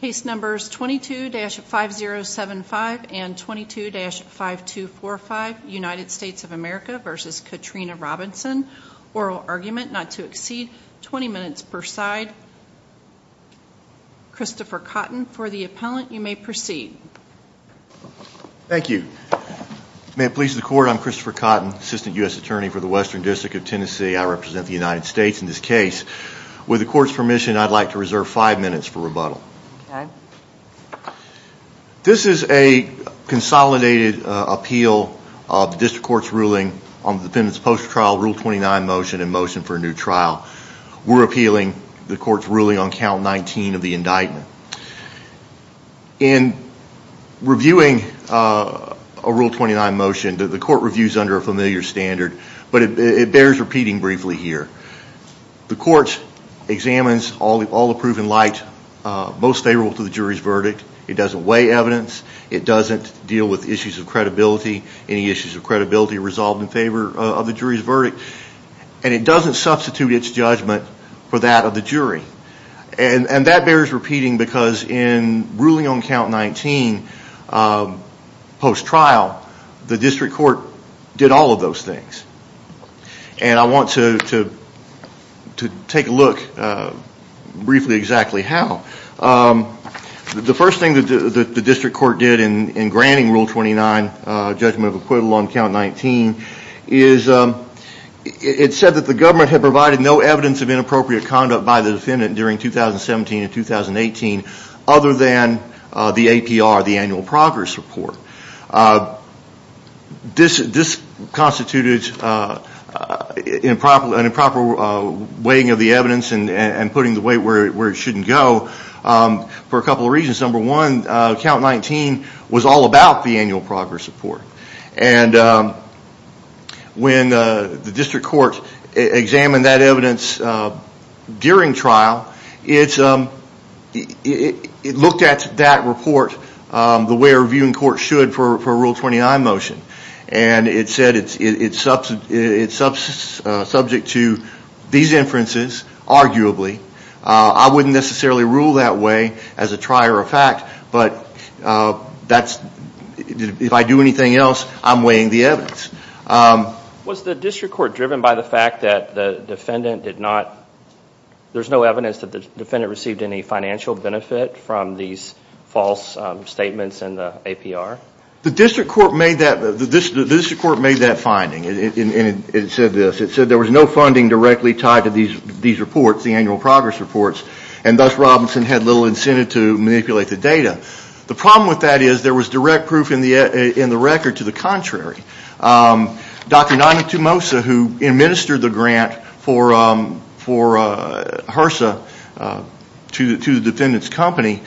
case numbers 22-5075 and 22-5245 United States of America versus Katrina Robinson oral argument not to exceed 20 minutes per side Christopher Cotton for the appellant you may proceed thank you may it please the court I'm Christopher Cotton assistant US Attorney for the Western District of Tennessee I represent the United States in this case with the court's permission I'd like to defer five minutes for rebuttal this is a consolidated appeal of the district court's ruling on the defendant's post trial rule 29 motion and motion for a new trial we're appealing the court's ruling on count 19 of the indictment in reviewing a rule 29 motion that the court reviews under a familiar standard but it bears repeating briefly here the courts examines all the all the proven light most favorable to the jury's verdict it doesn't weigh evidence it doesn't deal with issues of credibility any issues of credibility resolved in favor of the jury's verdict and it doesn't substitute its judgment for that of the jury and and that bears repeating because in ruling on count 19 post trial the district court did all of those things and I want to to to take a look briefly exactly how the first thing that the district court did in in granting rule 29 judgment of acquittal on count 19 is it said that the government had provided no evidence of inappropriate conduct by the defendant during 2017 and 2018 other than the APR the annual progress report this this constituted improper weighing of the evidence and and putting the weight where it shouldn't go for a couple reasons number one count 19 was all about the annual progress report and when the district court examined that evidence during trial it's um it looked at that report the way a reviewing court should for rule 29 motion and it said it's it's up to its substance subject to these inferences arguably I wouldn't necessarily rule that way as a trier of fact but that's if I do anything else I'm weighing the evidence was the evidence that the defendant received any financial benefit from these false statements in the APR the district court made that the district court made that finding it said this it said there was no funding directly tied to these these reports the annual progress reports and thus Robinson had little incentive to manipulate the data the problem with that is there was direct proof in the in the record to the contrary Dr. Nantumosa who administered the grant for for HRSA to the defendant's company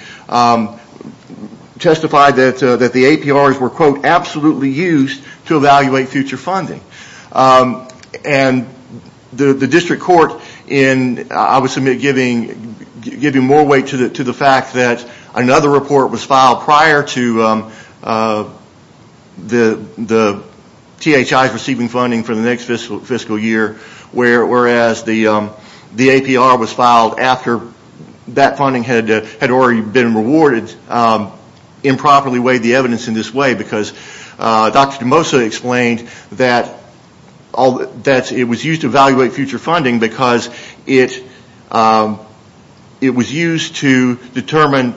testified that that the APRs were quote absolutely used to evaluate future funding and the district court in I would submit giving giving more weight to the to the fact that another report was filed prior to the the THI receiving funding for the next fiscal fiscal year where whereas the the APR was filed after that funding had had already been rewarded improperly weighed the evidence in this way because Dr. Nantumosa explained that all that it was used to evaluate future funding because it it was used to determine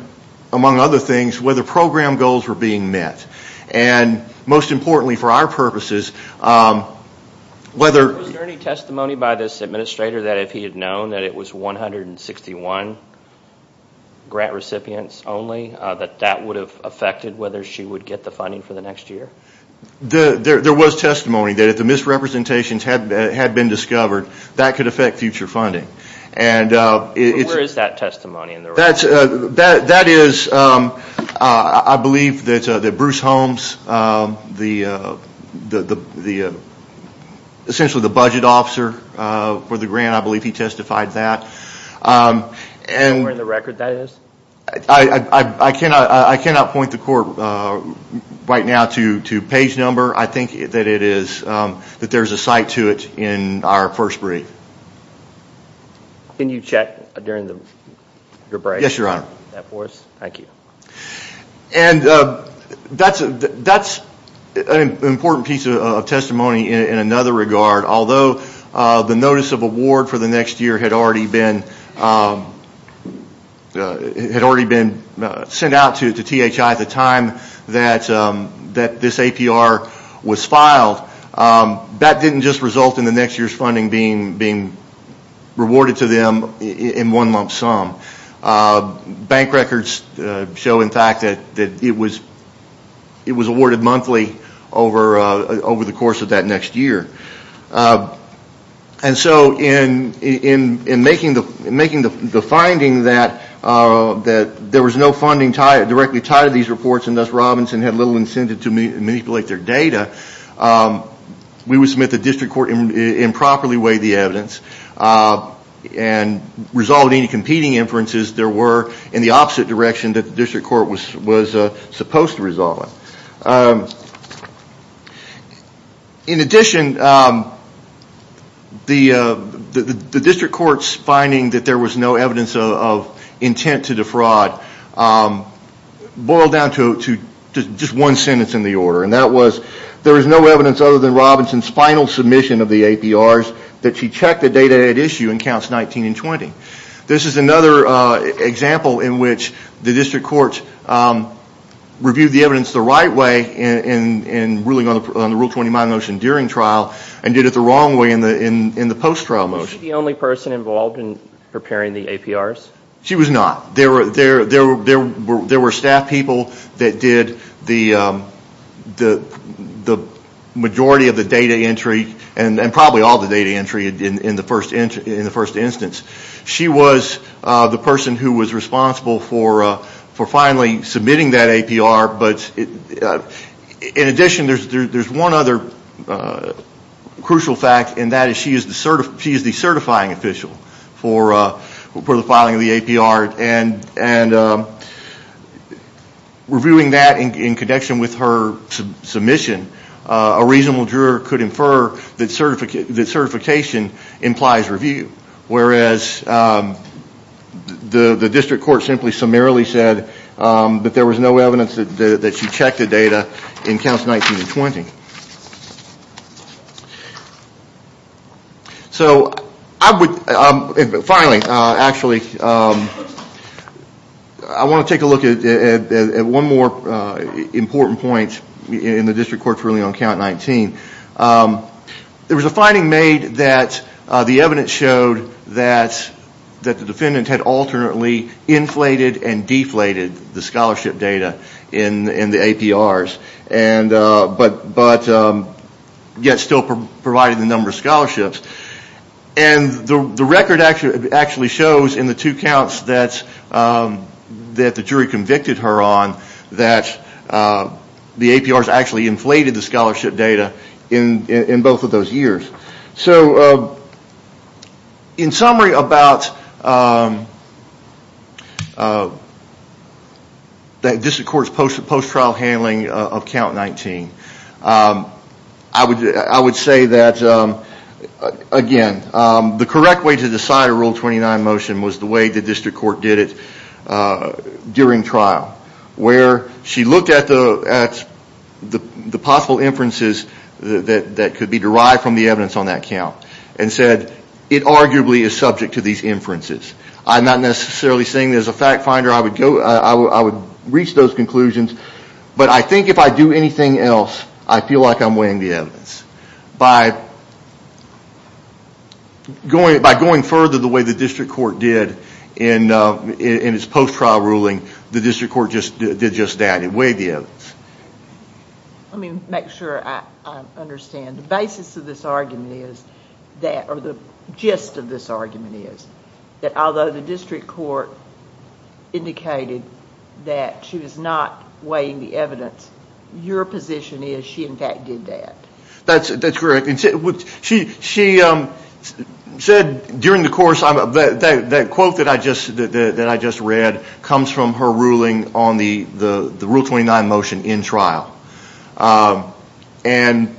among other things whether program goals were being met and most importantly for our purposes whether any testimony by this administrator that if he had known that it was 161 grant recipients only that that would have affected whether she would get the funding for the next year the there was testimony that if the misrepresentations had had been discovered that could affect future funding and it is that testimony in the that's that that is I believe that the Bruce Holmes the the the essentially the budget officer for the grant I believe he testified that and we're in the record that is I I cannot I cannot point the court right now to to page number I think that it is that there's a site to it in our first brief can you check during the break yes your honor thank you and that's that's an important piece of testimony in another regard although the notice of award for the next year had already been it had already been sent out to the THI at the time that that this APR was filed that didn't just result in the next year's being being rewarded to them in one lump sum bank records show in fact that it was it was awarded monthly over over the course of that next year and so in in in making the making the finding that that there was no funding tied directly tied to these reports and thus Robinson had little incentive to me manipulate their data we would submit the district court improperly weigh the evidence and resolving competing inferences there were in the opposite direction that district court was was supposed to resolve in addition the the district court's finding that there was no evidence of intent to defraud boil down to just one sentence in the order and that was there is no evidence other than Robinson's final submission of the APRs that she checked the data issue in counts 19 and 20 this is another example in which the district court reviewed the evidence the right way in ruling on the rule 20 my motion during trial and did it the wrong way in the in in the post-trial motion the only person involved in preparing the APRs she was not there were there there were there were staff people that did the the the majority of the data entry and then probably all the data entry in in the first in the first instance she was the person who was responsible for for finally submitting that APR but in addition there's there's one other crucial fact and that is she is the certifying official for for the filing of the APR and and reviewing that in connection with her submission a reasonable juror could infer that certificate that certification implies review whereas the the district court simply summarily said that there was no evidence that she checked the data in counts 19 and 20 so I would finally actually I want to take a look at one more important point in the district court ruling on count 19 there was a finding made that the evidence showed that that the defendant had alternately inflated and deflated the scholarship data in in the APRs and but but yet still provided the number of scholarships and the record actually actually shows in the two counts that's that the jury convicted her on that the APRs actually inflated the scholarship data in in both of those years so in summary about the district court's post post trial handling of count 19 I would I would say that again the correct way to decide a rule 29 motion was the way the district court did it during trial where she looked at the at the possible inferences that could be derived from the evidence on that count and said it arguably is subject to these inferences I'm not necessarily saying there's a fact finder I would go I would reach those conclusions but I think if I do anything else I feel like I'm weighing the evidence by going by going further the way the district court did in its post trial ruling the district court just did just that and weighed the evidence. Let me make sure I understand the basis of this argument is that or the gist of this argument is that although the district court indicated that she was not weighing the evidence your position is she in fact did that. That's that's correct. She said during the course that quote that I just that I just read comes from her ruling on the the the rule 29 motion in trial and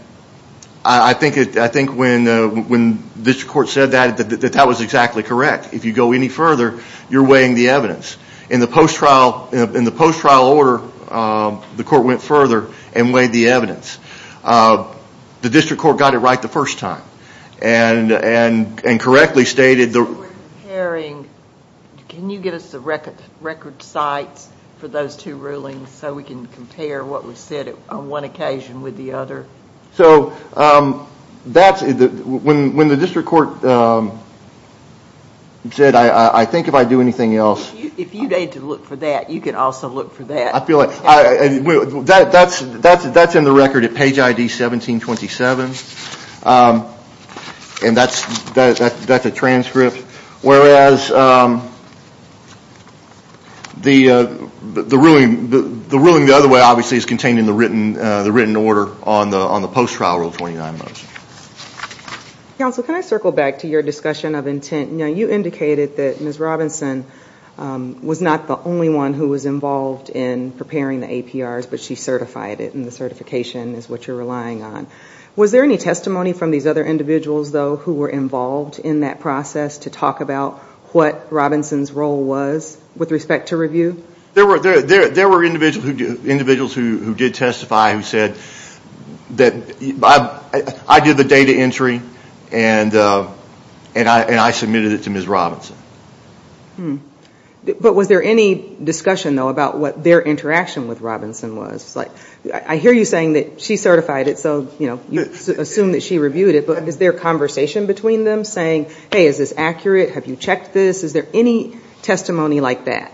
I think it I think when when this court said that that that was exactly correct if you go any further you're weighing the evidence in the post trial in the post trial order the court went further and weighed the evidence the district court got it right the first time and and and correctly stated the hearing can you get us the record record sites for those two rulings so we can compare what was said on one occasion with the other. So that's when when the district court said I I think if I do anything else. If you need to look for that you can also look for that. I feel like I that that's that's that's in the record at page ID 1727 and that's that's a transcript whereas the the ruling the ruling the other way obviously is contained in the written the written order on the on the post trial rule 29 motion. Counsel can I circle back to your discussion of intent you know you indicated that Ms. Robinson was not the only one who was involved in preparing the APRs but she certified it and the certification is what you're relying on. Was there any testimony from these other individuals though who were involved in that process to talk about what Robinson's role was with respect to review? There were there there were individuals who did testify who said that I did the data entry and and I and I submitted it to Ms. Robinson. Hmm but was there any discussion though about what their interaction with Robinson was like I hear you saying that she certified it so you know you assume that she reviewed it but is there conversation between them saying hey is this accurate have you checked this is there any testimony like that?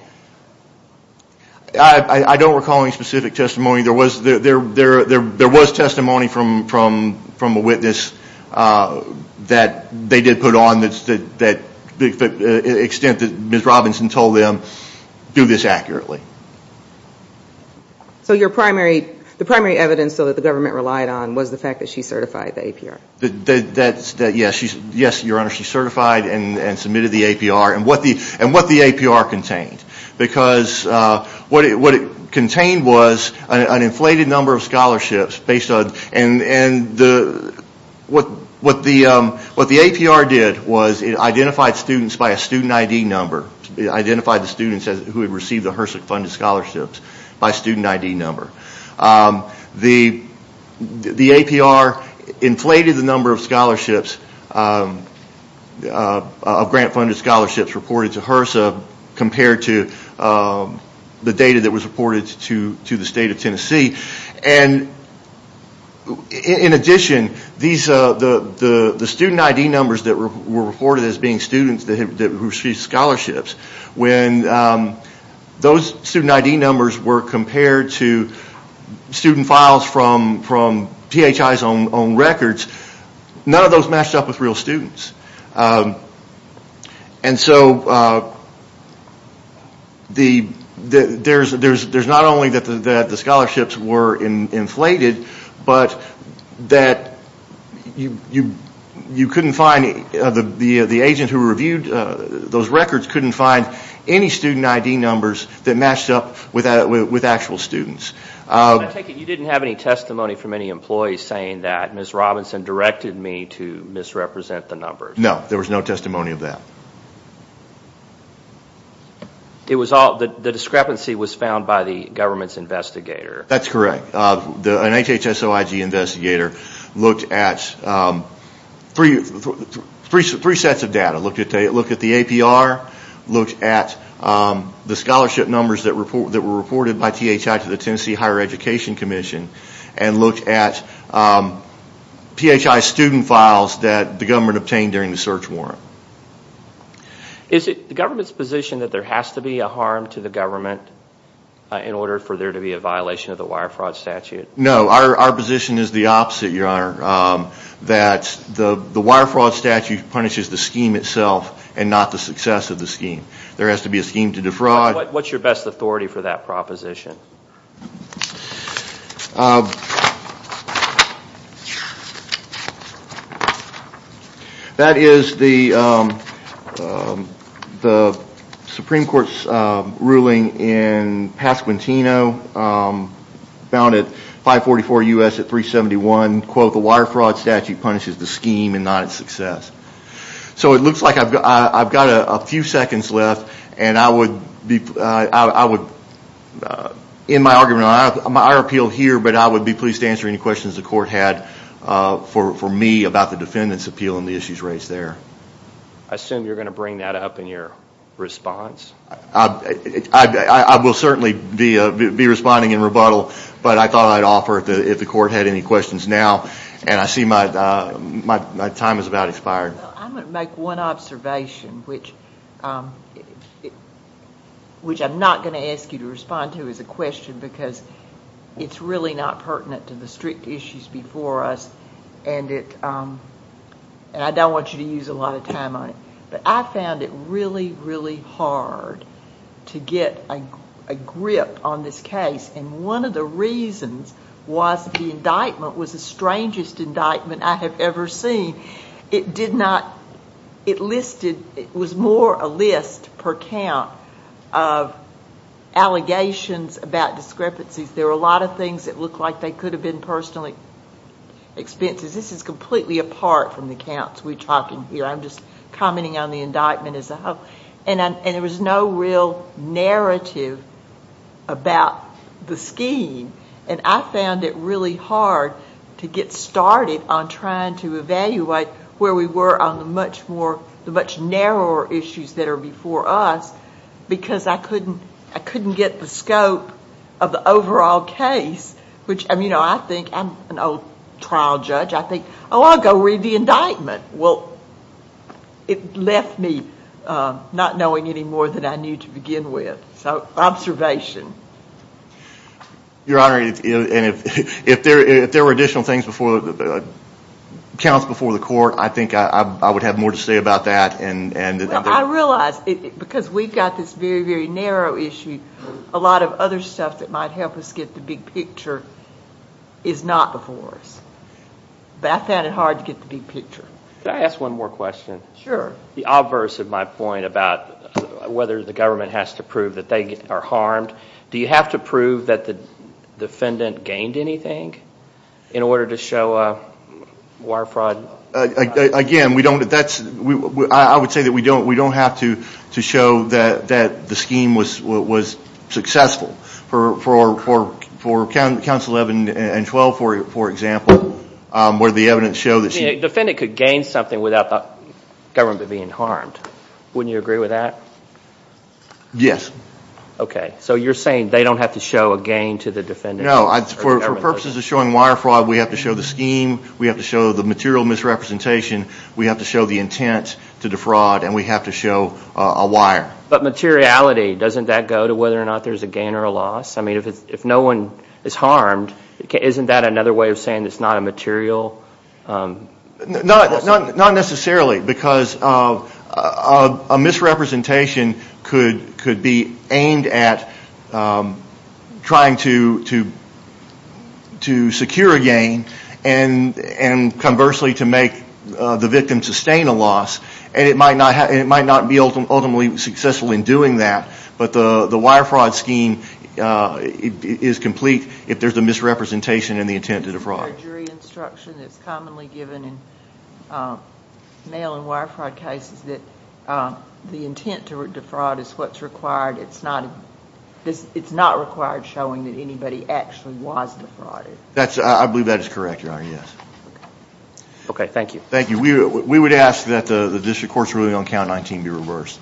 I don't recall any specific testimony there was there there there there was testimony from from from a witness that they did put on that's that that extent that Ms. Robinson told them do this accurately. So your primary the primary evidence so that the government relied on was the fact that she certified the APR? That's that yes she's yes your honor she certified and and submitted the APR and what the and what the APR contained because what it what it contained was an inflated number of scholarships based on and and the what what the what the APR did was it identified students by a student ID number. It identified the students as who had received the HRSA funded scholarships by student ID number. The the APR inflated the number of scholarships of grant-funded scholarships reported to HRSA compared to the data that was reported to to the state of Tennessee and in addition these the the student ID numbers that were reported as being students that had received scholarships when those student ID numbers were compared to student files from from PHI's own own records none of those matched up with real students and so the there's there's there's not only that the that the scholarships were in inflated but that you you you couldn't find the the agent who reviewed those records couldn't find any student ID numbers that matched up with that with actual students. I take it you didn't have any testimony from any employees saying that Ms. Robinson directed me to misrepresent the numbers. No there was no testimony of that. It was all that the discrepancy was found by the government's investigator. That's correct the an HHS-OIG investigator looked at three three three sets of data look at the APR looked at the scholarship numbers that report that were reported by THI to the Tennessee Higher Education Commission and looked at PHI student files that the government obtained during the search warrant. Is it the government's position that there has to be a harm to the government in order for there to be a violation of the wire fraud statute? No our position is the opposite your honor that the the wire fraud statute punishes the scheme itself and not the success of the scheme. There has to be a scheme to defraud. What's your best authority for that proposition? That is the the Supreme Court's ruling in Pasquantino found at 544 U.S. at 371 quote the wire fraud statute punishes the scheme and not its success. So it looks like I've got a few seconds left and I would be I would in my argument I appeal here but I would be pleased to answer any questions the court had for me about the defendant's appeal and the issues raised there. I assume you're going to bring that up in your response? I will certainly be responding in but I thought I'd offer if the court had any questions now and I see my time is about expired. I'm going to make one observation which which I'm not going to ask you to respond to is a question because it's really not pertinent to the strict issues before us and it and I don't want you to use a lot of time on but I found it really really hard to get a grip on this case and one of the reasons was the indictment was the strangest indictment I have ever seen. It did not it listed it was more a list per count of allegations about discrepancies. There are a lot of things that look like they could have been personally expenses. This is completely apart from the counts we're talking here. I'm just commenting on the indictment as a whole and there was no real narrative about the scheme and I found it really hard to get started on trying to evaluate where we were on the much more the much narrower issues that are before us because I couldn't I couldn't get the scope of the overall case which I mean you know I think I'm an old trial judge I think oh I'll go read the indictment. Well it left me not knowing any more than I knew to begin with so observation. Your Honor and if if there if there were additional things before the counts before the court I think I would have more to say about that and I realize because we've got this very very narrow issue a lot of other stuff that might help us get the big picture is not before us. I found it hard to get the big picture. Can I ask one more question? Sure. The obverse of my point about whether the government has to prove that they are harmed do you have to prove that the defendant gained anything in order to show a wire fraud? Again we don't that's we I would say that we don't we don't have to to show that that the scheme was what was successful for for for counsel 11 and 12 for example where the evidence show that the defendant could gain something without the government being harmed. Wouldn't you agree with that? Yes. Okay so you're saying they don't have to show a gain to the defendant? No for purposes of showing wire fraud we have to show the scheme we have to show the material misrepresentation we have to show the intent to defraud and we have to show a wire. But materiality doesn't that go to whether or not there's a gain or a loss I mean if it's if no one is harmed isn't that another way of saying it's not a material? Not necessarily because of a misrepresentation could could be aimed at trying to to to secure a gain and and conversely to make the victim sustain a loss and it might not might not be ultimately successful in doing that but the the wire fraud scheme is complete if there's a misrepresentation and the intent to defraud. Is there a jury instruction that's commonly given in mail and wire fraud cases that the intent to defraud is what's required it's not this it's not required showing that anybody actually was defrauded? That's I believe that is correct your honor yes. Okay thank you. Thank you we would ask that the district court's ruling on count 19 be reversed.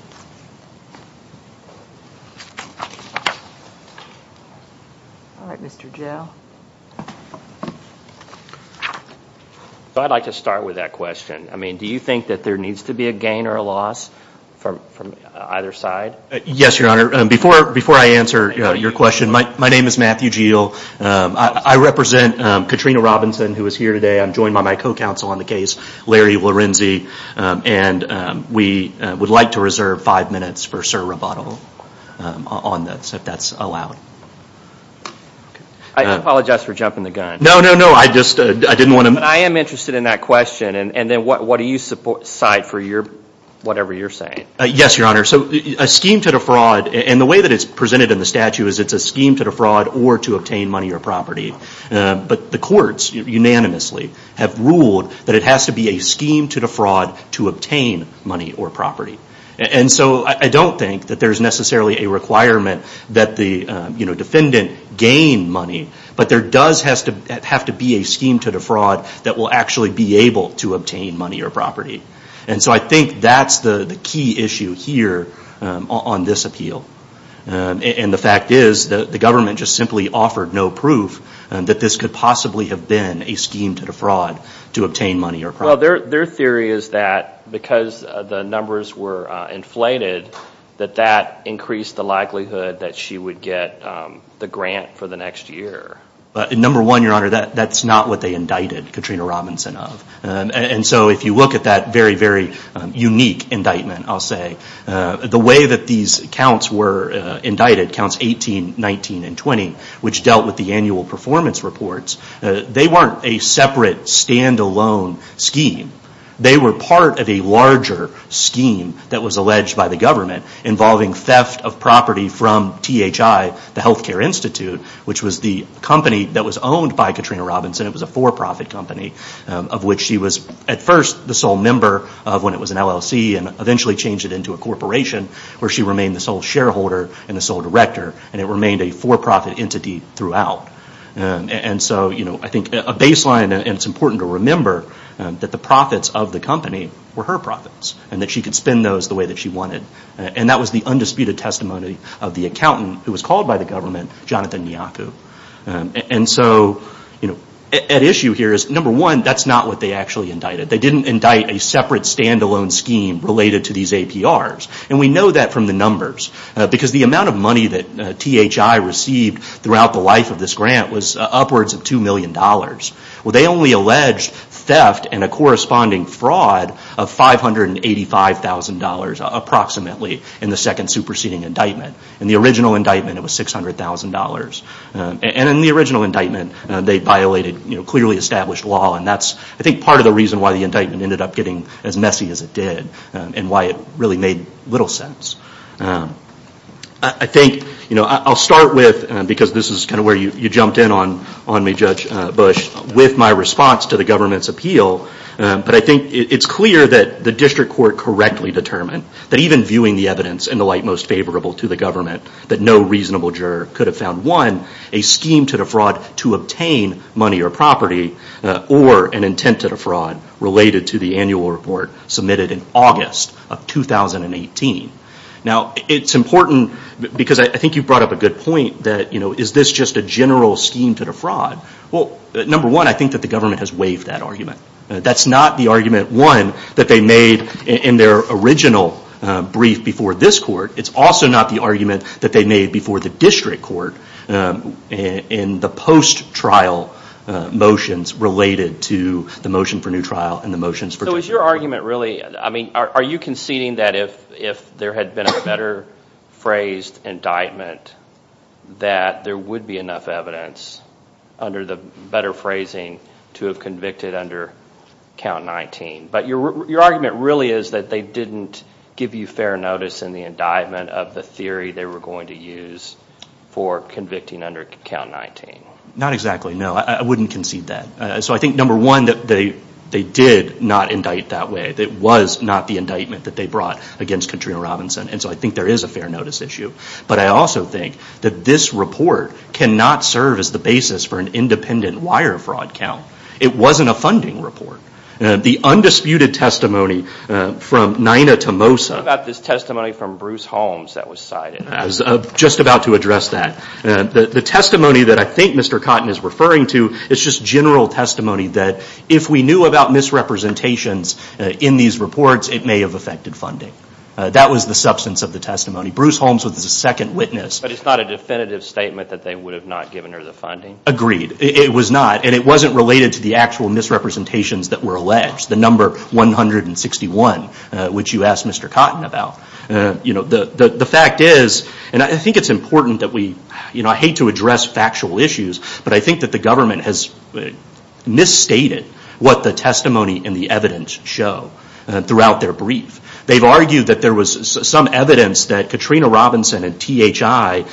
All right Mr. Joe. I'd like to start with that question I mean do you think that there needs to be a gain or a loss from from either side? Yes your honor before before I answer your question my name is Matthew Geale I represent Katrina Robinson who is here today I'm joined by my co-counsel on the case Larry Lorenzi and we would like to reserve five minutes for sir rebuttal on this if that's allowed. I apologize for jumping the gun. No no no I just I didn't want to I am interested in that question and then what what do you support side for your whatever you're saying? Yes your honor so a scheme to defraud and the way that it's presented in the statute is it's a scheme to defraud or to obtain money or property but the courts unanimously have ruled that it has to be a scheme to defraud to obtain money or property and so I don't think that there's necessarily a requirement that the you know defendant gain money but there does have to have to be a scheme to defraud that will actually be able to obtain money or property and so I think that's the the key issue here on this appeal and the fact is that the government just simply offered no proof that this could possibly have been a scheme to defraud to obtain money or property. Well their theory is that because the numbers were inflated that that increased the likelihood that she would get the grant for the next year. Number one your honor that that's not what they indicted Katrina Robinson of and so if you look at that very very unique indictment I'll say the way that these counts were indicted counts 18, 19, and 20 which dealt with the annual performance reports they weren't a separate stand-alone scheme they were part of a larger scheme that was alleged by the government involving theft of property from THI the Healthcare Institute which was the company that was owned by Katrina Robinson it was a for-profit company of which she was at first the sole member of when it was an LLC and eventually changed it into a corporation where she remained the sole shareholder and the sole director and it remained a for-profit entity throughout and so you know I think a baseline and it's important to remember that the profits of the company were her profits and that she could spend those the way that she wanted and that was the undisputed testimony of the accountant who was called by the government Jonathan Miyaku and so you know at issue here is number one that's not what they actually indicted they didn't indict a separate stand-alone scheme related to these APRs and we know that from the numbers because the amount of money that THI received throughout the life of this grant was upwards of two million dollars well they only alleged theft and a corresponding fraud of five hundred and eighty five thousand dollars approximately in the second superseding indictment in the original indictment it was six hundred thousand dollars and in the original indictment they violated you know clearly established law and that's I think part of the reason why the indictment ended up getting as messy as it did and why it really made little sense I think you know I'll start with because this is kind of where you you jumped in on on me judge Bush with my response to the government's appeal but I think it's clear that the district court correctly determined that even viewing the evidence in the light most favorable to the government that no reasonable juror could have found one a scheme to defraud to obtain money or property or an intent to defraud related to the annual report submitted in August of 2018 now it's important because I think you brought up a good point that you know is this just a general scheme to defraud well number one I think that the government has waived that argument that's not the argument one that they made in their original brief before this court it's also not the argument that they made before the district court in the post trial motions related to the motion for trial and the motions for so is your argument really I mean are you conceding that if if there had been a better phrased indictment that there would be enough evidence under the better phrasing to have convicted under count 19 but your argument really is that they didn't give you fair notice in the indictment of the theory they were going to use for convicting under count 19 not exactly no I wouldn't concede that so I think number one that they they did not indict that way it was not the indictment that they brought against Katrina Robinson and so I think there is a fair notice issue but I also think that this report cannot serve as the basis for an independent wire fraud count it wasn't a funding report the undisputed testimony from Nina Tomosa about this testimony from Bruce Holmes that was cited as of just about to that the testimony that I think Mr. Cotton is referring to is just general testimony that if we knew about misrepresentations in these reports it may have affected funding that was the substance of the testimony Bruce Holmes with the second witness but it's not a definitive statement that they would have not given her the funding agreed it was not and it wasn't related to the actual misrepresentations that were alleged the number 161 which you asked Mr. Cotton about you know the the fact is and I think it's important that we you know I hate to address factual issues but I think that the government has misstated what the testimony in the evidence show throughout their brief they've argued that there was some evidence that Katrina Robinson and THI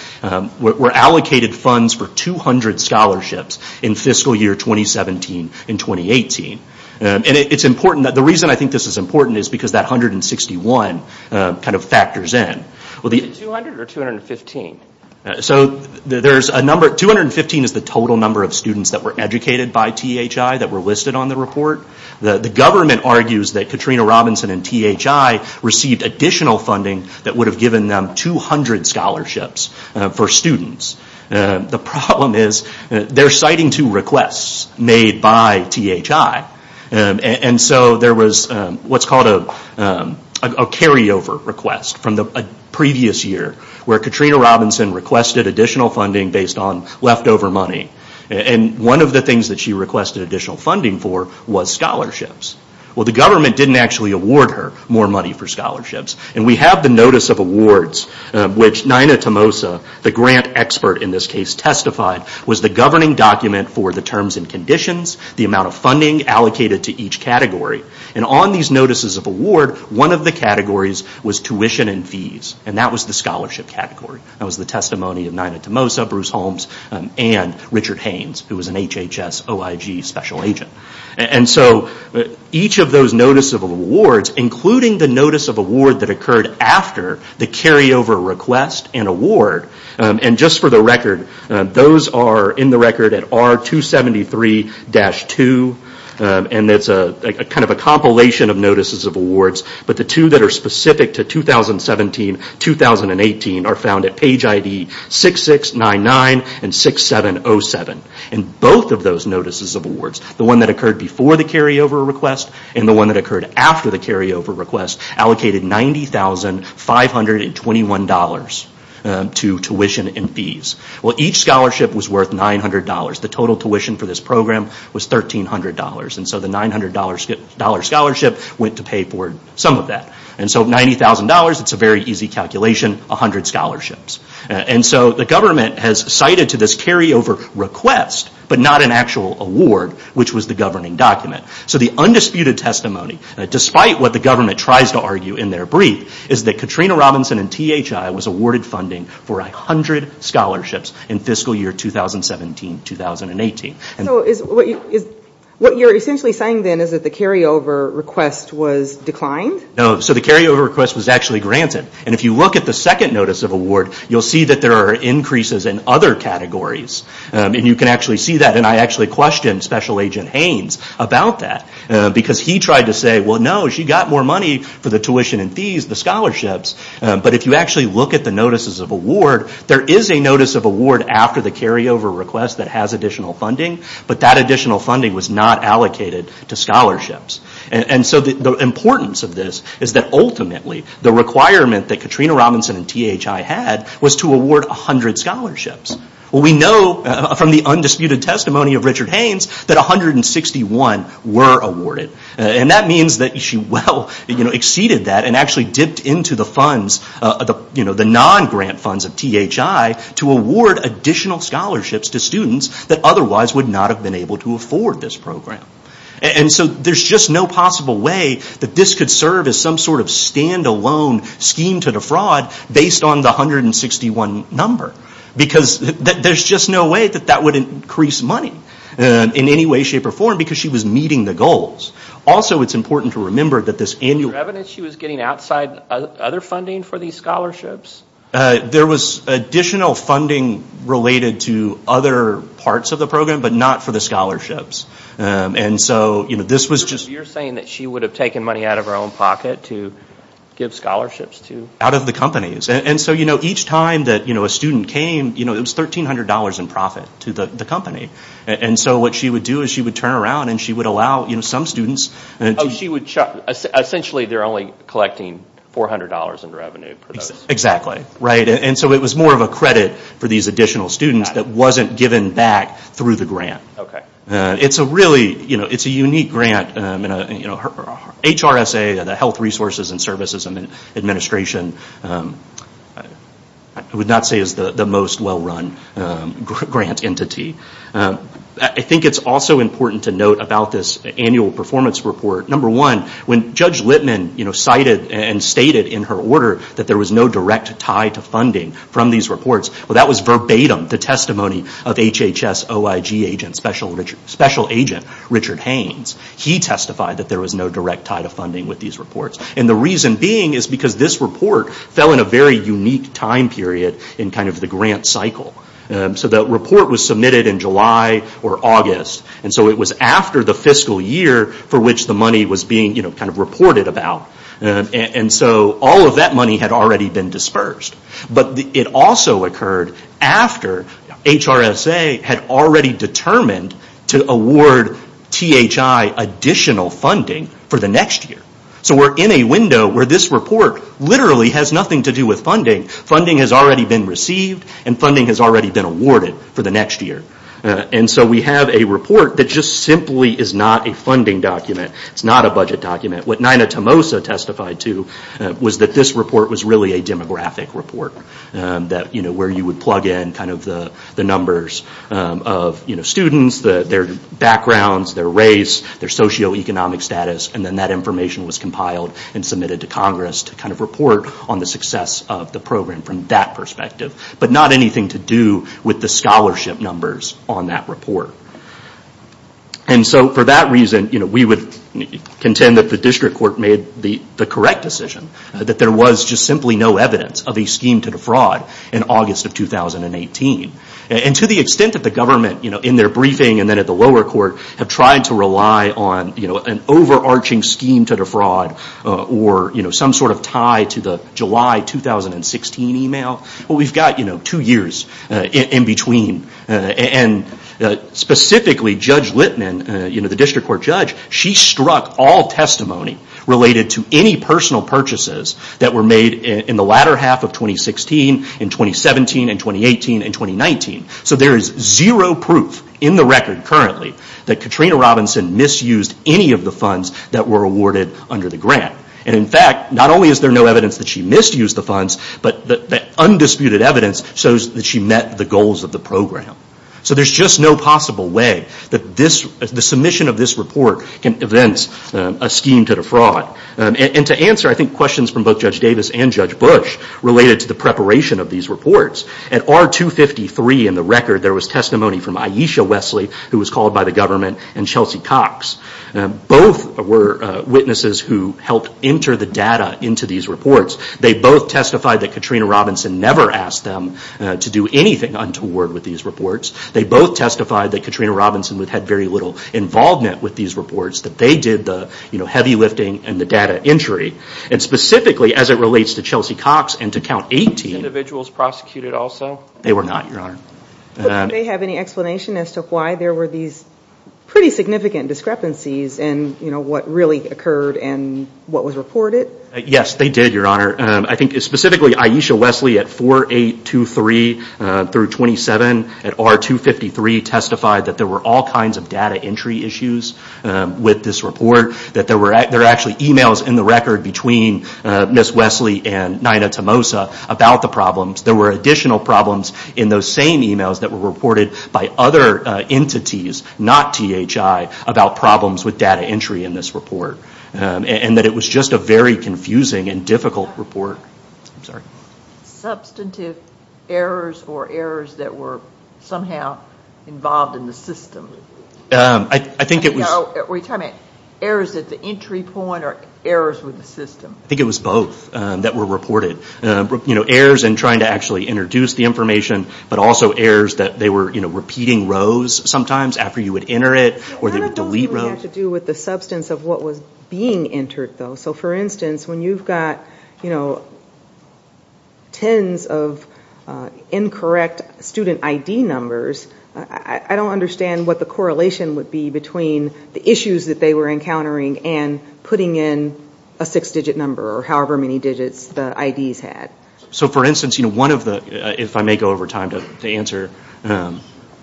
were allocated funds for 200 scholarships in fiscal year 2017 in 2018 and it's important that the reason I think this is important is because that number 161 kind of factors in well the 200 or 215 so there's a number 215 is the total number of students that were educated by THI that were listed on the report the government argues that Katrina Robinson and THI received additional funding that would have given them 200 scholarships for students the problem is they're citing two requests made by THI and so there was what's called a carryover request from the previous year where Katrina Robinson requested additional funding based on leftover money and one of the things that she requested additional funding for was scholarships well the government didn't actually award her more money for scholarships and we have the notice of awards which Nina Tomosa the grant expert in this case testified was the governing document for the terms and conditions the amount of funding allocated to each category and on these notices of award one of the categories was tuition and fees and that was the scholarship category that was the testimony of Nina Tomosa, Bruce Holmes and Richard Haynes who was an HHS OIG special agent and so each of those notice of awards including the notice of award that occurred after the carryover request and award and just for the record those are in the record at R273-2 and it's a kind of a compilation of notices of awards but the two that are specific to 2017-2018 are found at page ID 6699 and 6707 and both of those notices of awards the one that occurred before the carryover request and the one that occurred after the carryover request allocated $90,521 to tuition and fees. Each scholarship was worth $900 the total tuition for this program was $1,300 and so the $900 scholarship went to pay for some of that and so $90,000 it's a very easy calculation 100 scholarships and so the government has cited to this carryover request but not an actual award which was the governing document so the undisputed testimony despite what the government tries to argue in their brief is that Katrina Robinson and THI was awarded funding for a hundred scholarships in fiscal year 2017-2018. So what you're essentially saying then is that the carryover request was declined? No, so the carryover request was actually granted and if you look at the second notice of award you'll see that there are increases in other categories and you can actually see that and I actually questioned Special Agent Haynes about that because he tried to say well no she got more money for the tuition and fees the scholarships but if you actually look at the notices of award there is a notice of award after the carryover request that has additional funding but that additional funding was not allocated to scholarships and so the importance of this is that ultimately the requirement that Katrina Robinson and THI had was to award a hundred scholarships. We know from the undisputed testimony of Richard Haynes that 161 were awarded and that means that she well exceeded that and actually dipped into the funds, the non-grant funds of THI to award additional scholarships to students that otherwise would not have been able to afford this program and so there's just no possible way that this could serve as some sort of standalone scheme to defraud based on the 161 number because there's just no way that that would increase money in any way shape or form because she was meeting the goals. Also it's important to remember that this annual... Is there evidence that she was getting outside other funding for these There was additional funding related to other parts of the program but not for the scholarships and so this was just... So you're saying that she would have taken money out of her own pocket to give scholarships to... And so each time that a student came it was $1,300 in profit to the company and so what she would do is she would turn around and she would allow some students... Oh, she would... Essentially they're only collecting $400 in revenue for those... Exactly. And so it was more of a credit for these additional students that wasn't given back through the grant. It's a really unique grant. HRSA, the Health and Human Services, I would not say is the most well-run grant entity. I think it's also important to note about this annual performance report. Number one, when Judge Littman cited and stated in her order that there was no direct tie to funding from these reports, well that was verbatim the testimony of HHS OIG agent, special agent Richard Haynes. He testified that there was no direct tie to funding with these reports and the reason being is because this report fell in a very unique time period in the grant cycle. So that report was submitted in July or August and so it was after the fiscal year for which the money was being reported about and so all of that money had already been dispersed. But it also occurred after HRSA had already determined to award THI additional funding for the next year. So we're in a window where this report literally has nothing to do with funding. Funding has already been received and funding has already been awarded for the next year. So we have a report that just simply is not a funding document. It's not a budget document. What Nina Tomosa testified to was that this report was really a demographic report where you would plug in the numbers of students, their backgrounds, their race, their socioeconomic status and then that information was compiled and submitted to Congress to report on the success of the program from that perspective. But not anything to do with the scholarship numbers on that report. And so for that reason we would contend that the district court made the correct decision that there was just simply no evidence of a scheme to defraud in August of 2018. And to the extent that the government in their briefing and then at the lower court have tried to rely on an overarching scheme to defraud or some sort of tie to the July 2016 email, well we've got two years in between. And specifically Judge Littman, the district court judge, she struck all testimony related to any personal purchases that were made in the latter half of 2016 and 2017 and 2018 and 2019. So there is zero proof in the record currently that Katrina Robinson misused any of the funds that were reported under the grant. And in fact, not only is there no evidence that she misused the funds, but the undisputed evidence shows that she met the goals of the program. So there's just no possible way that the submission of this report can evince a scheme to defraud. And to answer I think questions from both Judge Davis and Judge Bush related to the preparation of these reports, at R253 in the record there was testimony from Aisha Wesley, who was called by the federal government, and Chelsea Cox. Both were witnesses who helped enter the data into these reports. They both testified that Katrina Robinson never asked them to do anything untoward with these reports. They both testified that Katrina Robinson had very little involvement with these reports, that they did the heavy lifting and the data entry. And specifically as it relates to Chelsea Cox and to Count 18... Were these individuals prosecuted also? They were not, Your Honor. Do they have any explanation as to why there were these pretty significant discrepancies in what really occurred and what was reported? Yes, they did, Your Honor. I think specifically Aisha Wesley at 4823 through 27 at R253 testified that there were all kinds of data entry issues with this report. That there were actually emails in the record between Ms. Wesley and Nina Tomosa about the problems. There were additional problems in those same emails that were reported by other entities, not THI, about problems with data entry in this report. And that it was just a very confusing and difficult report. Substantive errors or errors that were somehow involved in the system? I think it was... Were you talking about errors at the entry point or errors with the system? I think it was both that were reported. Errors in trying to actually produce the information, but also errors that they were repeating rows sometimes after you would enter it, or they would delete rows. I don't know if it had to do with the substance of what was being entered, though. So, for instance, when you've got tens of incorrect student ID numbers, I don't understand what the correlation would be between the issues that they were encountering and putting in a six-digit number or however many digits the IDs had. So, for instance, if I may go over time to answer...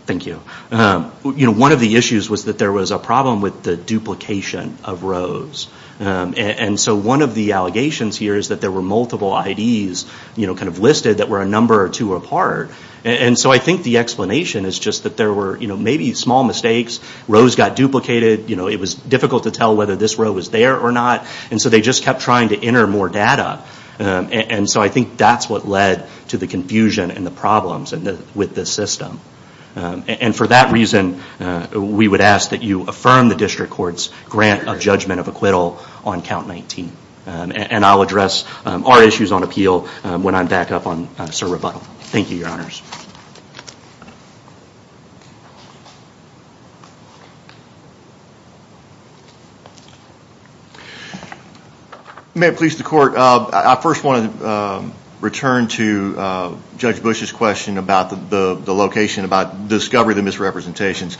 Thank you. One of the issues was that there was a problem with the duplication of rows. And so one of the allegations here is that there were multiple IDs listed that were a number or two apart. And so I think the explanation is just that there were maybe small mistakes. Rows got duplicated. It was difficult to tell whether this row was there or not. And so they just kept trying to enter more data. And so I think that's what led to the confusion and the problems with this system. And for that reason, we would ask that you affirm the district court's grant of judgment of acquittal on Count 19. And I'll address our issues on appeal when I'm back up on Sir Rebuttal. Thank you, Your Honors. May it please the Court. I first want to return to Judge Bush's question about the location, about the discovery of the misrepresentations.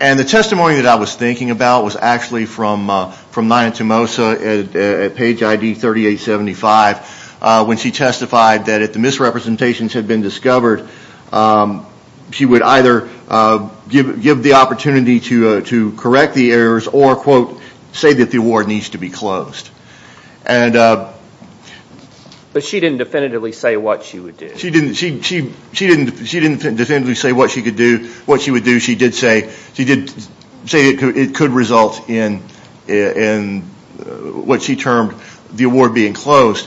And the testimony that I was thinking about was actually from Nina Tomosa at page ID 3875 when she testified that if the misrepresentations had been discovered, she would either give the opportunity to correct the errors or, quote, say that the award needs to be closed. But she didn't definitively say what she would do. She didn't definitively say what she would do. She did say it could result in what she termed the award being closed.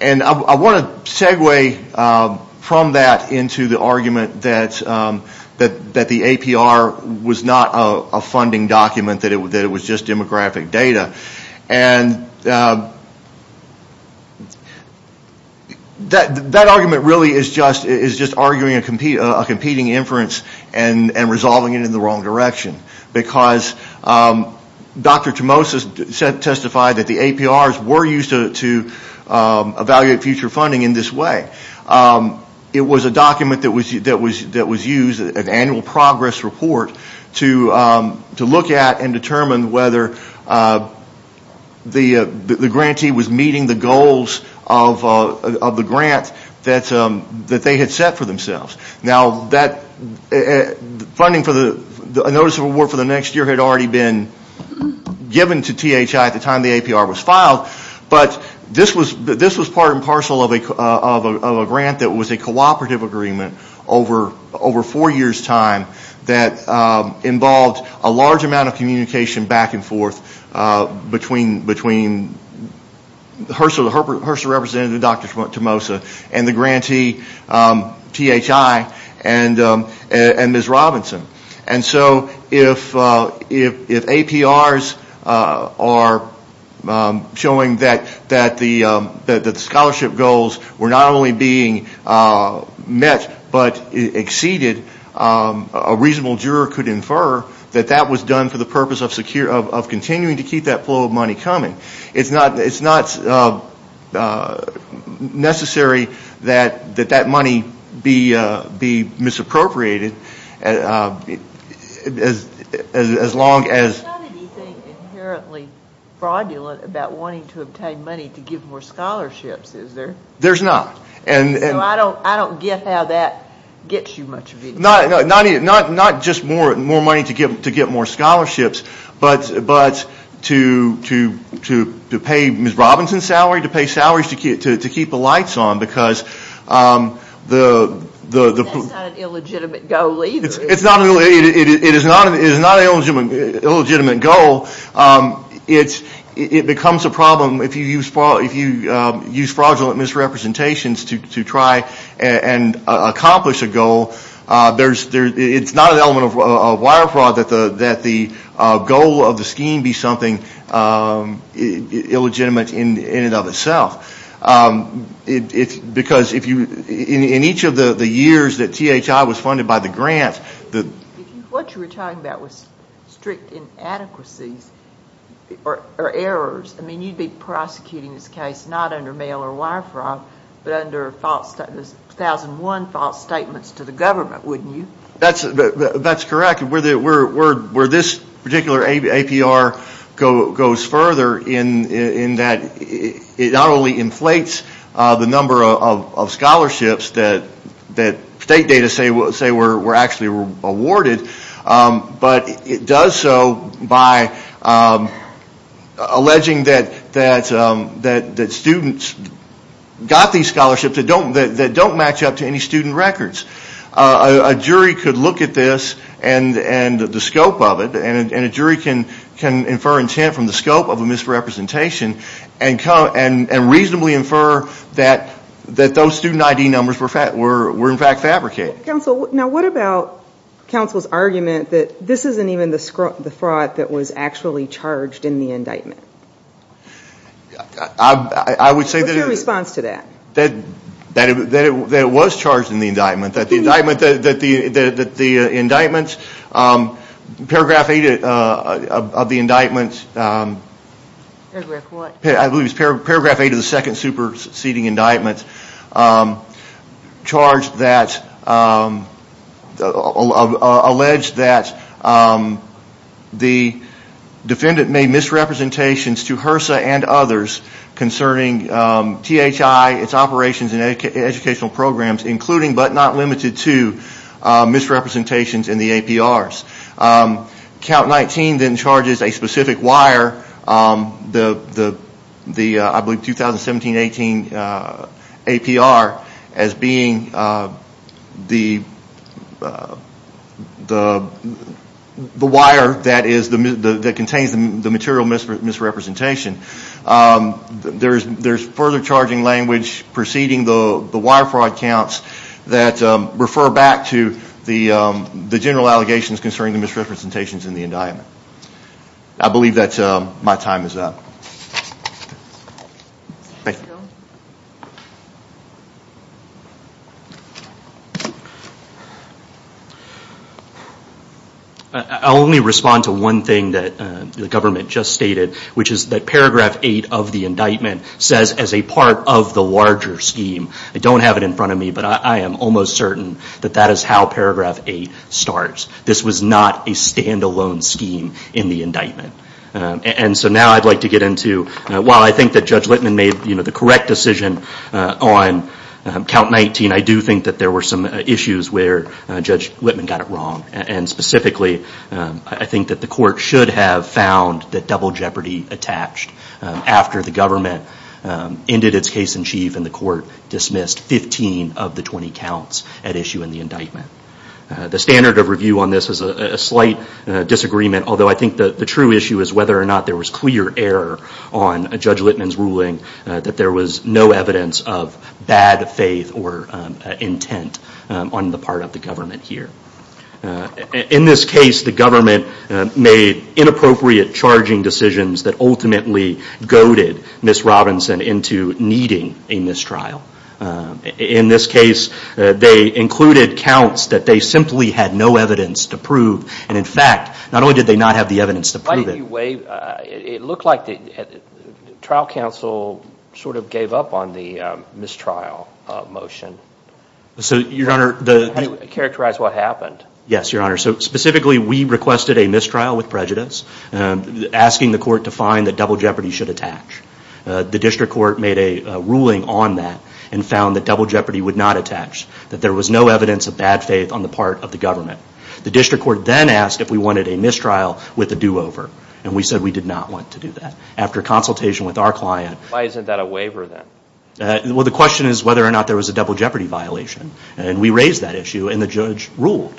And I want to segue from that into the argument that the APR was not a funding document, that it was just demographic data. And that argument really is just arguing a competing inference and resolving it in the wrong direction. Because Dr. Tomosa testified that the APRs were used to evaluate future funding in this way. It was a document that was used, an annual progress report, to look at and determine whether the grantee was meeting the goals of the grant that they had set for themselves. Now, funding for the notice of award for the next year had already been given to THI at the time the APR was filed. But this was part and parcel of a grant that was a cooperative agreement over four years' time that involved a large amount of communication back and forth between HRSA representative Dr. Tomosa and the grantee THI and Ms. Robinson. And so if APRs are showing that the scholarship goals were not only being met but exceeded, a reasonable juror could infer that that was done for the purpose of continuing to keep that flow of money coming. It's not necessary that that money be misappropriated as long as... There's not anything inherently fraudulent about wanting to obtain money to give more scholarships, is there? There's not. So I don't get how that gets you much of anything. Not just more money to get more scholarships, but to pay Ms. Robinson's salary, to pay salaries to keep the lights on because the... That's not an illegitimate goal either. It is not an illegitimate goal. It becomes a problem if you use fraudulent misrepresentations to try and accomplish a goal. It's not an element of wire fraud that the goal of the scheme be something illegitimate in and of itself. Because in each of the years that THI was funded by the grant... What you were talking about was strict inadequacies or errors. I mean, you'd be prosecuting this case not under mail or wire fraud, but under 2001 false statements to the government, wouldn't you? That's correct. Where this particular APR goes further in that it not only inflates the number of scholarships that state data say were actually awarded, but it does so by alleging that students got these scholarships that don't match up to any student records. A jury could look at this and the scope of it, and a jury can infer intent from the scope of a misrepresentation and reasonably infer that those student ID numbers were in fact fabricated. Counsel, what about counsel's argument that this isn't even the fraud that was actually charged in the indictment? What's your response to that? That it was charged in the indictment. Paragraph 8 of the indictment, I believe it was paragraph 8 of the second superseding indictment, charged that, alleged that the defendant made misrepresentations to HRSA and others concerning THI, its operations in educational programs, including but not limited to misrepresentations in the APRs. Count 19 then charges a specific wire, the 2017-18 APR, as being the wire that contains the material misrepresentation. There's further charging language preceding the wire fraud counts that refer back to the general allegations concerning the misrepresentations in the indictment. I believe that my time is up. Thank you. I'll only respond to one thing that the government just stated, which is that paragraph 8 of the indictment says as a part of the larger scheme. I don't have it in front of me, but I am almost certain that that is how paragraph 8 starts. This was not a standalone scheme in the indictment. Now I'd like to get into, while I think that Judge Littman made the correct decision on count 19, I do think that there were some issues where Judge Littman got it wrong. Specifically, I think that the court should have found that double jeopardy attached after the government ended its case in chief and the court dismissed 15 of the 20 counts at issue in the indictment. The standard of review on this is a slight disagreement, although I think the true issue is whether or not there was clear error on Judge Littman's ruling that there was no evidence of bad faith or intent on the part of the government here. In this case, the government made inappropriate charging decisions that ultimately goaded Ms. Robinson into needing a mistrial. In this case, they included counts that they simply had no evidence to prove, and in fact, not only did they not have the evidence to prove it. It looked like the trial counsel sort of gave up on the mistrial motion. So, Your Honor, the How do you characterize what happened? Yes, Your Honor, so specifically we requested a mistrial with prejudice, asking the court to find that double jeopardy should attach. The district court made a ruling on that and found that double jeopardy would not attach, that there was no evidence of bad faith on the part of the government. The district court then asked if we wanted a mistrial with a do-over, and we said we did not want to do that. After consultation with our client, Why isn't that a waiver then? Well, the question is whether or not there was a double jeopardy violation, and we raised that issue and the judge ruled.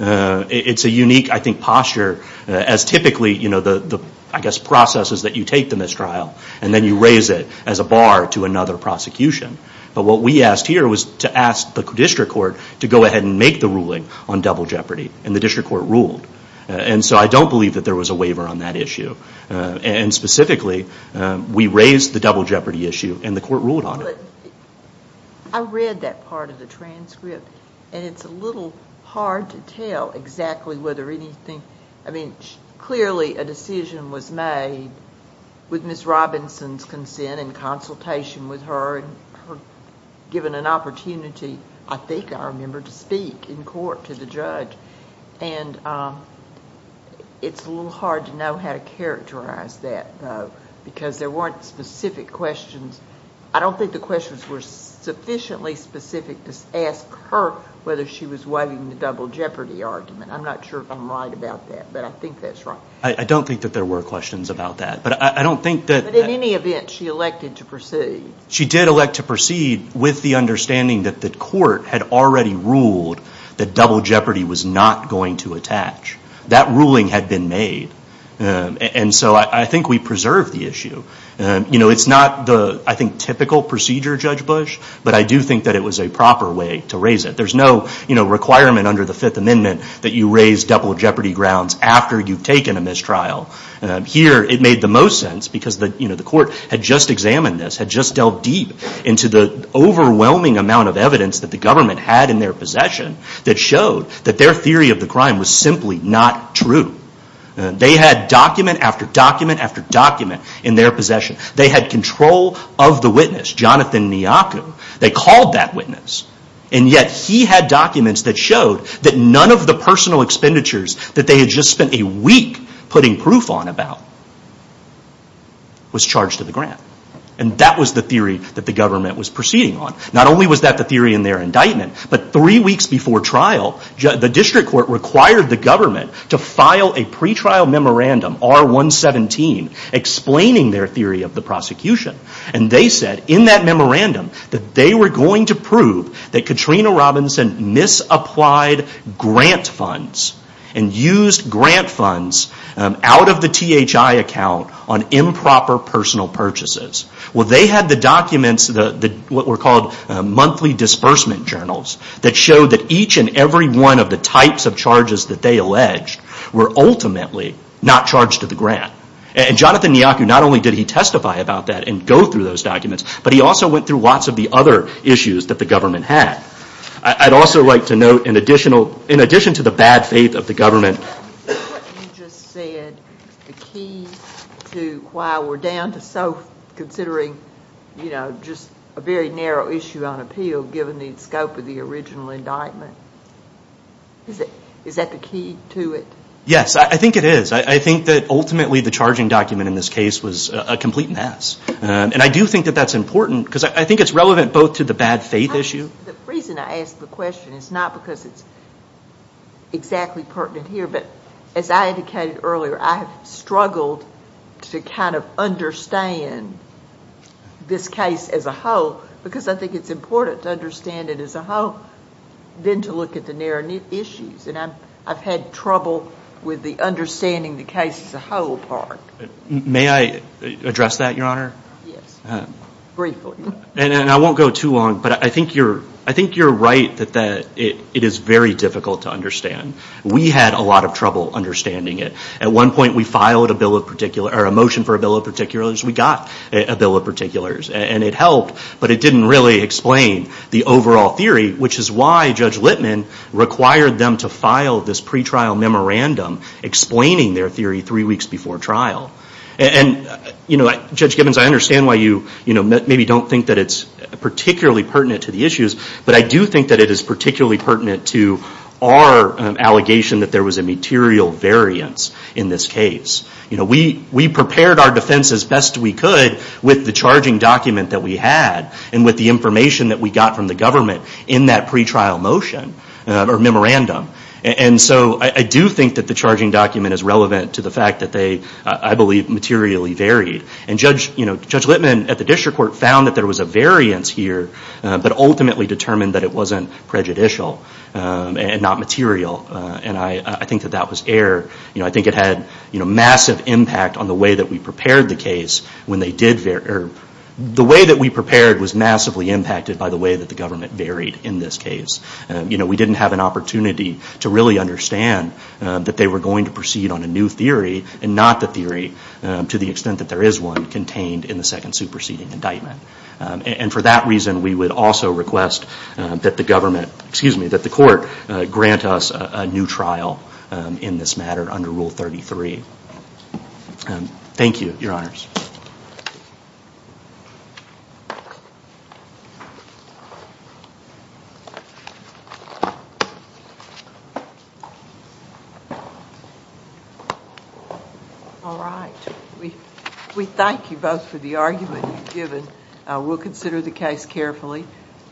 It's a unique, I think, posture as typically the, I guess, processes that you take the mistrial, and then you raise it as a bar to another prosecution. But what we asked here was to ask the district court to go ahead and make the ruling on double jeopardy, and the district court ruled. And so I don't believe that there was a waiver on that issue. And specifically, we raised the double jeopardy issue, and the court ruled on it. I read that part of the transcript, and it's a little hard to tell exactly whether anything... I mean, clearly a decision was made with Ms. Robinson's consent and consultation with her, and given an opportunity, I think I remember, to speak in court to the judge. And it's a little hard to know how to characterize that, though, because there weren't specific questions. I don't think the questions were sufficiently specific to ask her whether she was waiving the double jeopardy argument. I'm not sure if I'm right about that, but I think that's right. I don't think that there were questions about that, but I don't think that... But in any event, she elected to proceed. She did elect to proceed with the understanding that the court had already ruled that double jeopardy was not going to attach. That ruling had been made. And so I think we preserved the issue. You know, it's not the, I think, typical procedure, Judge Bush, but I do think that it was a proper way to raise it. There's no requirement under the Fifth Amendment that you raise double jeopardy grounds after you've taken a mistrial. Here, it made the most sense because the court had just examined this, had just delved deep into the overwhelming amount of evidence that the government had in their possession that showed that their theory of the crime was simply not true. They had document after document after document in their possession. They had control of the witness, Jonathan Nyaku. They called that witness. And yet, he had documents that showed that none of the personal expenditures that they had just spent a week putting proof on about was charged to the grant. And that was the theory that the government was proceeding on. Not only was that the theory in their indictment, but three weeks before trial, the district court required the government to file a pretrial memorandum, R-117, explaining their theory of the prosecution. And they said in that memorandum that they were going to prove that Katrina Robinson misapplied grant funds and used grant funds out of the THI account on improper personal purchases. Well, they had the documents, what were called monthly disbursement journals, that showed that each and every one of the types of charges that they alleged were ultimately not charged to the grant. And Jonathan Nyaku, not only did he testify about that and go through those documents, but he also went through lots of the other issues that the government had. I'd also like to note, in addition to the bad faith of the government... You just said the key to why we're down to so, considering just a very narrow issue on appeal, given the scope of the original indictment. Is that the key to it? Yes, I think it is. I think that ultimately the charging document in this case was a complete mess. And I do think that that's important, because I think it's relevant both to the bad faith issue... The reason I ask the question is not because it's exactly pertinent here, but as I indicated earlier, I have struggled to kind of understand this case as a whole, because I think it's important to understand it as a whole than to look at the narrow-knit issues. And I've had trouble with the understanding the case as a whole part. May I address that, Your Honor? Yes, briefly. And I won't go too long, but I think you're right that it is very difficult to understand. We had a lot of trouble understanding it. At one point, we filed a motion for a bill of particulars. We got a bill of particulars, and it helped, but it didn't really explain the overall theory, which is why Judge Littman required them to file this pretrial memorandum explaining their theory three weeks before trial. And, you know, Judge Gibbons, I understand why you maybe don't think that it's particularly pertinent to the issues, but I do think that it is particularly pertinent to our allegation that there was a material variance in this case. You know, we prepared our defense as best we could with the charging document that we had and with the information that we got from the government in that pretrial motion or memorandum. And so I do think that the charging document is relevant to the fact that they, I believe, materially varied. And Judge Littman at the District Court found that there was a variance here, but ultimately determined that it wasn't prejudicial and not material. And I think that that was error. I think it had massive impact on the way that we prepared the case. The way that we prepared was massively impacted by the way that the government varied in this case. You know, we didn't have an opportunity to really understand that they were going to proceed on a new theory and not the theory to the extent that there is one contained in the second superseding indictment. And for that reason, we would also request that the government, excuse me, that the court grant us a new trial in this matter under Rule 33. Thank you, Your Honors. All right. We thank you both for the argument you've given. We'll consider the case carefully.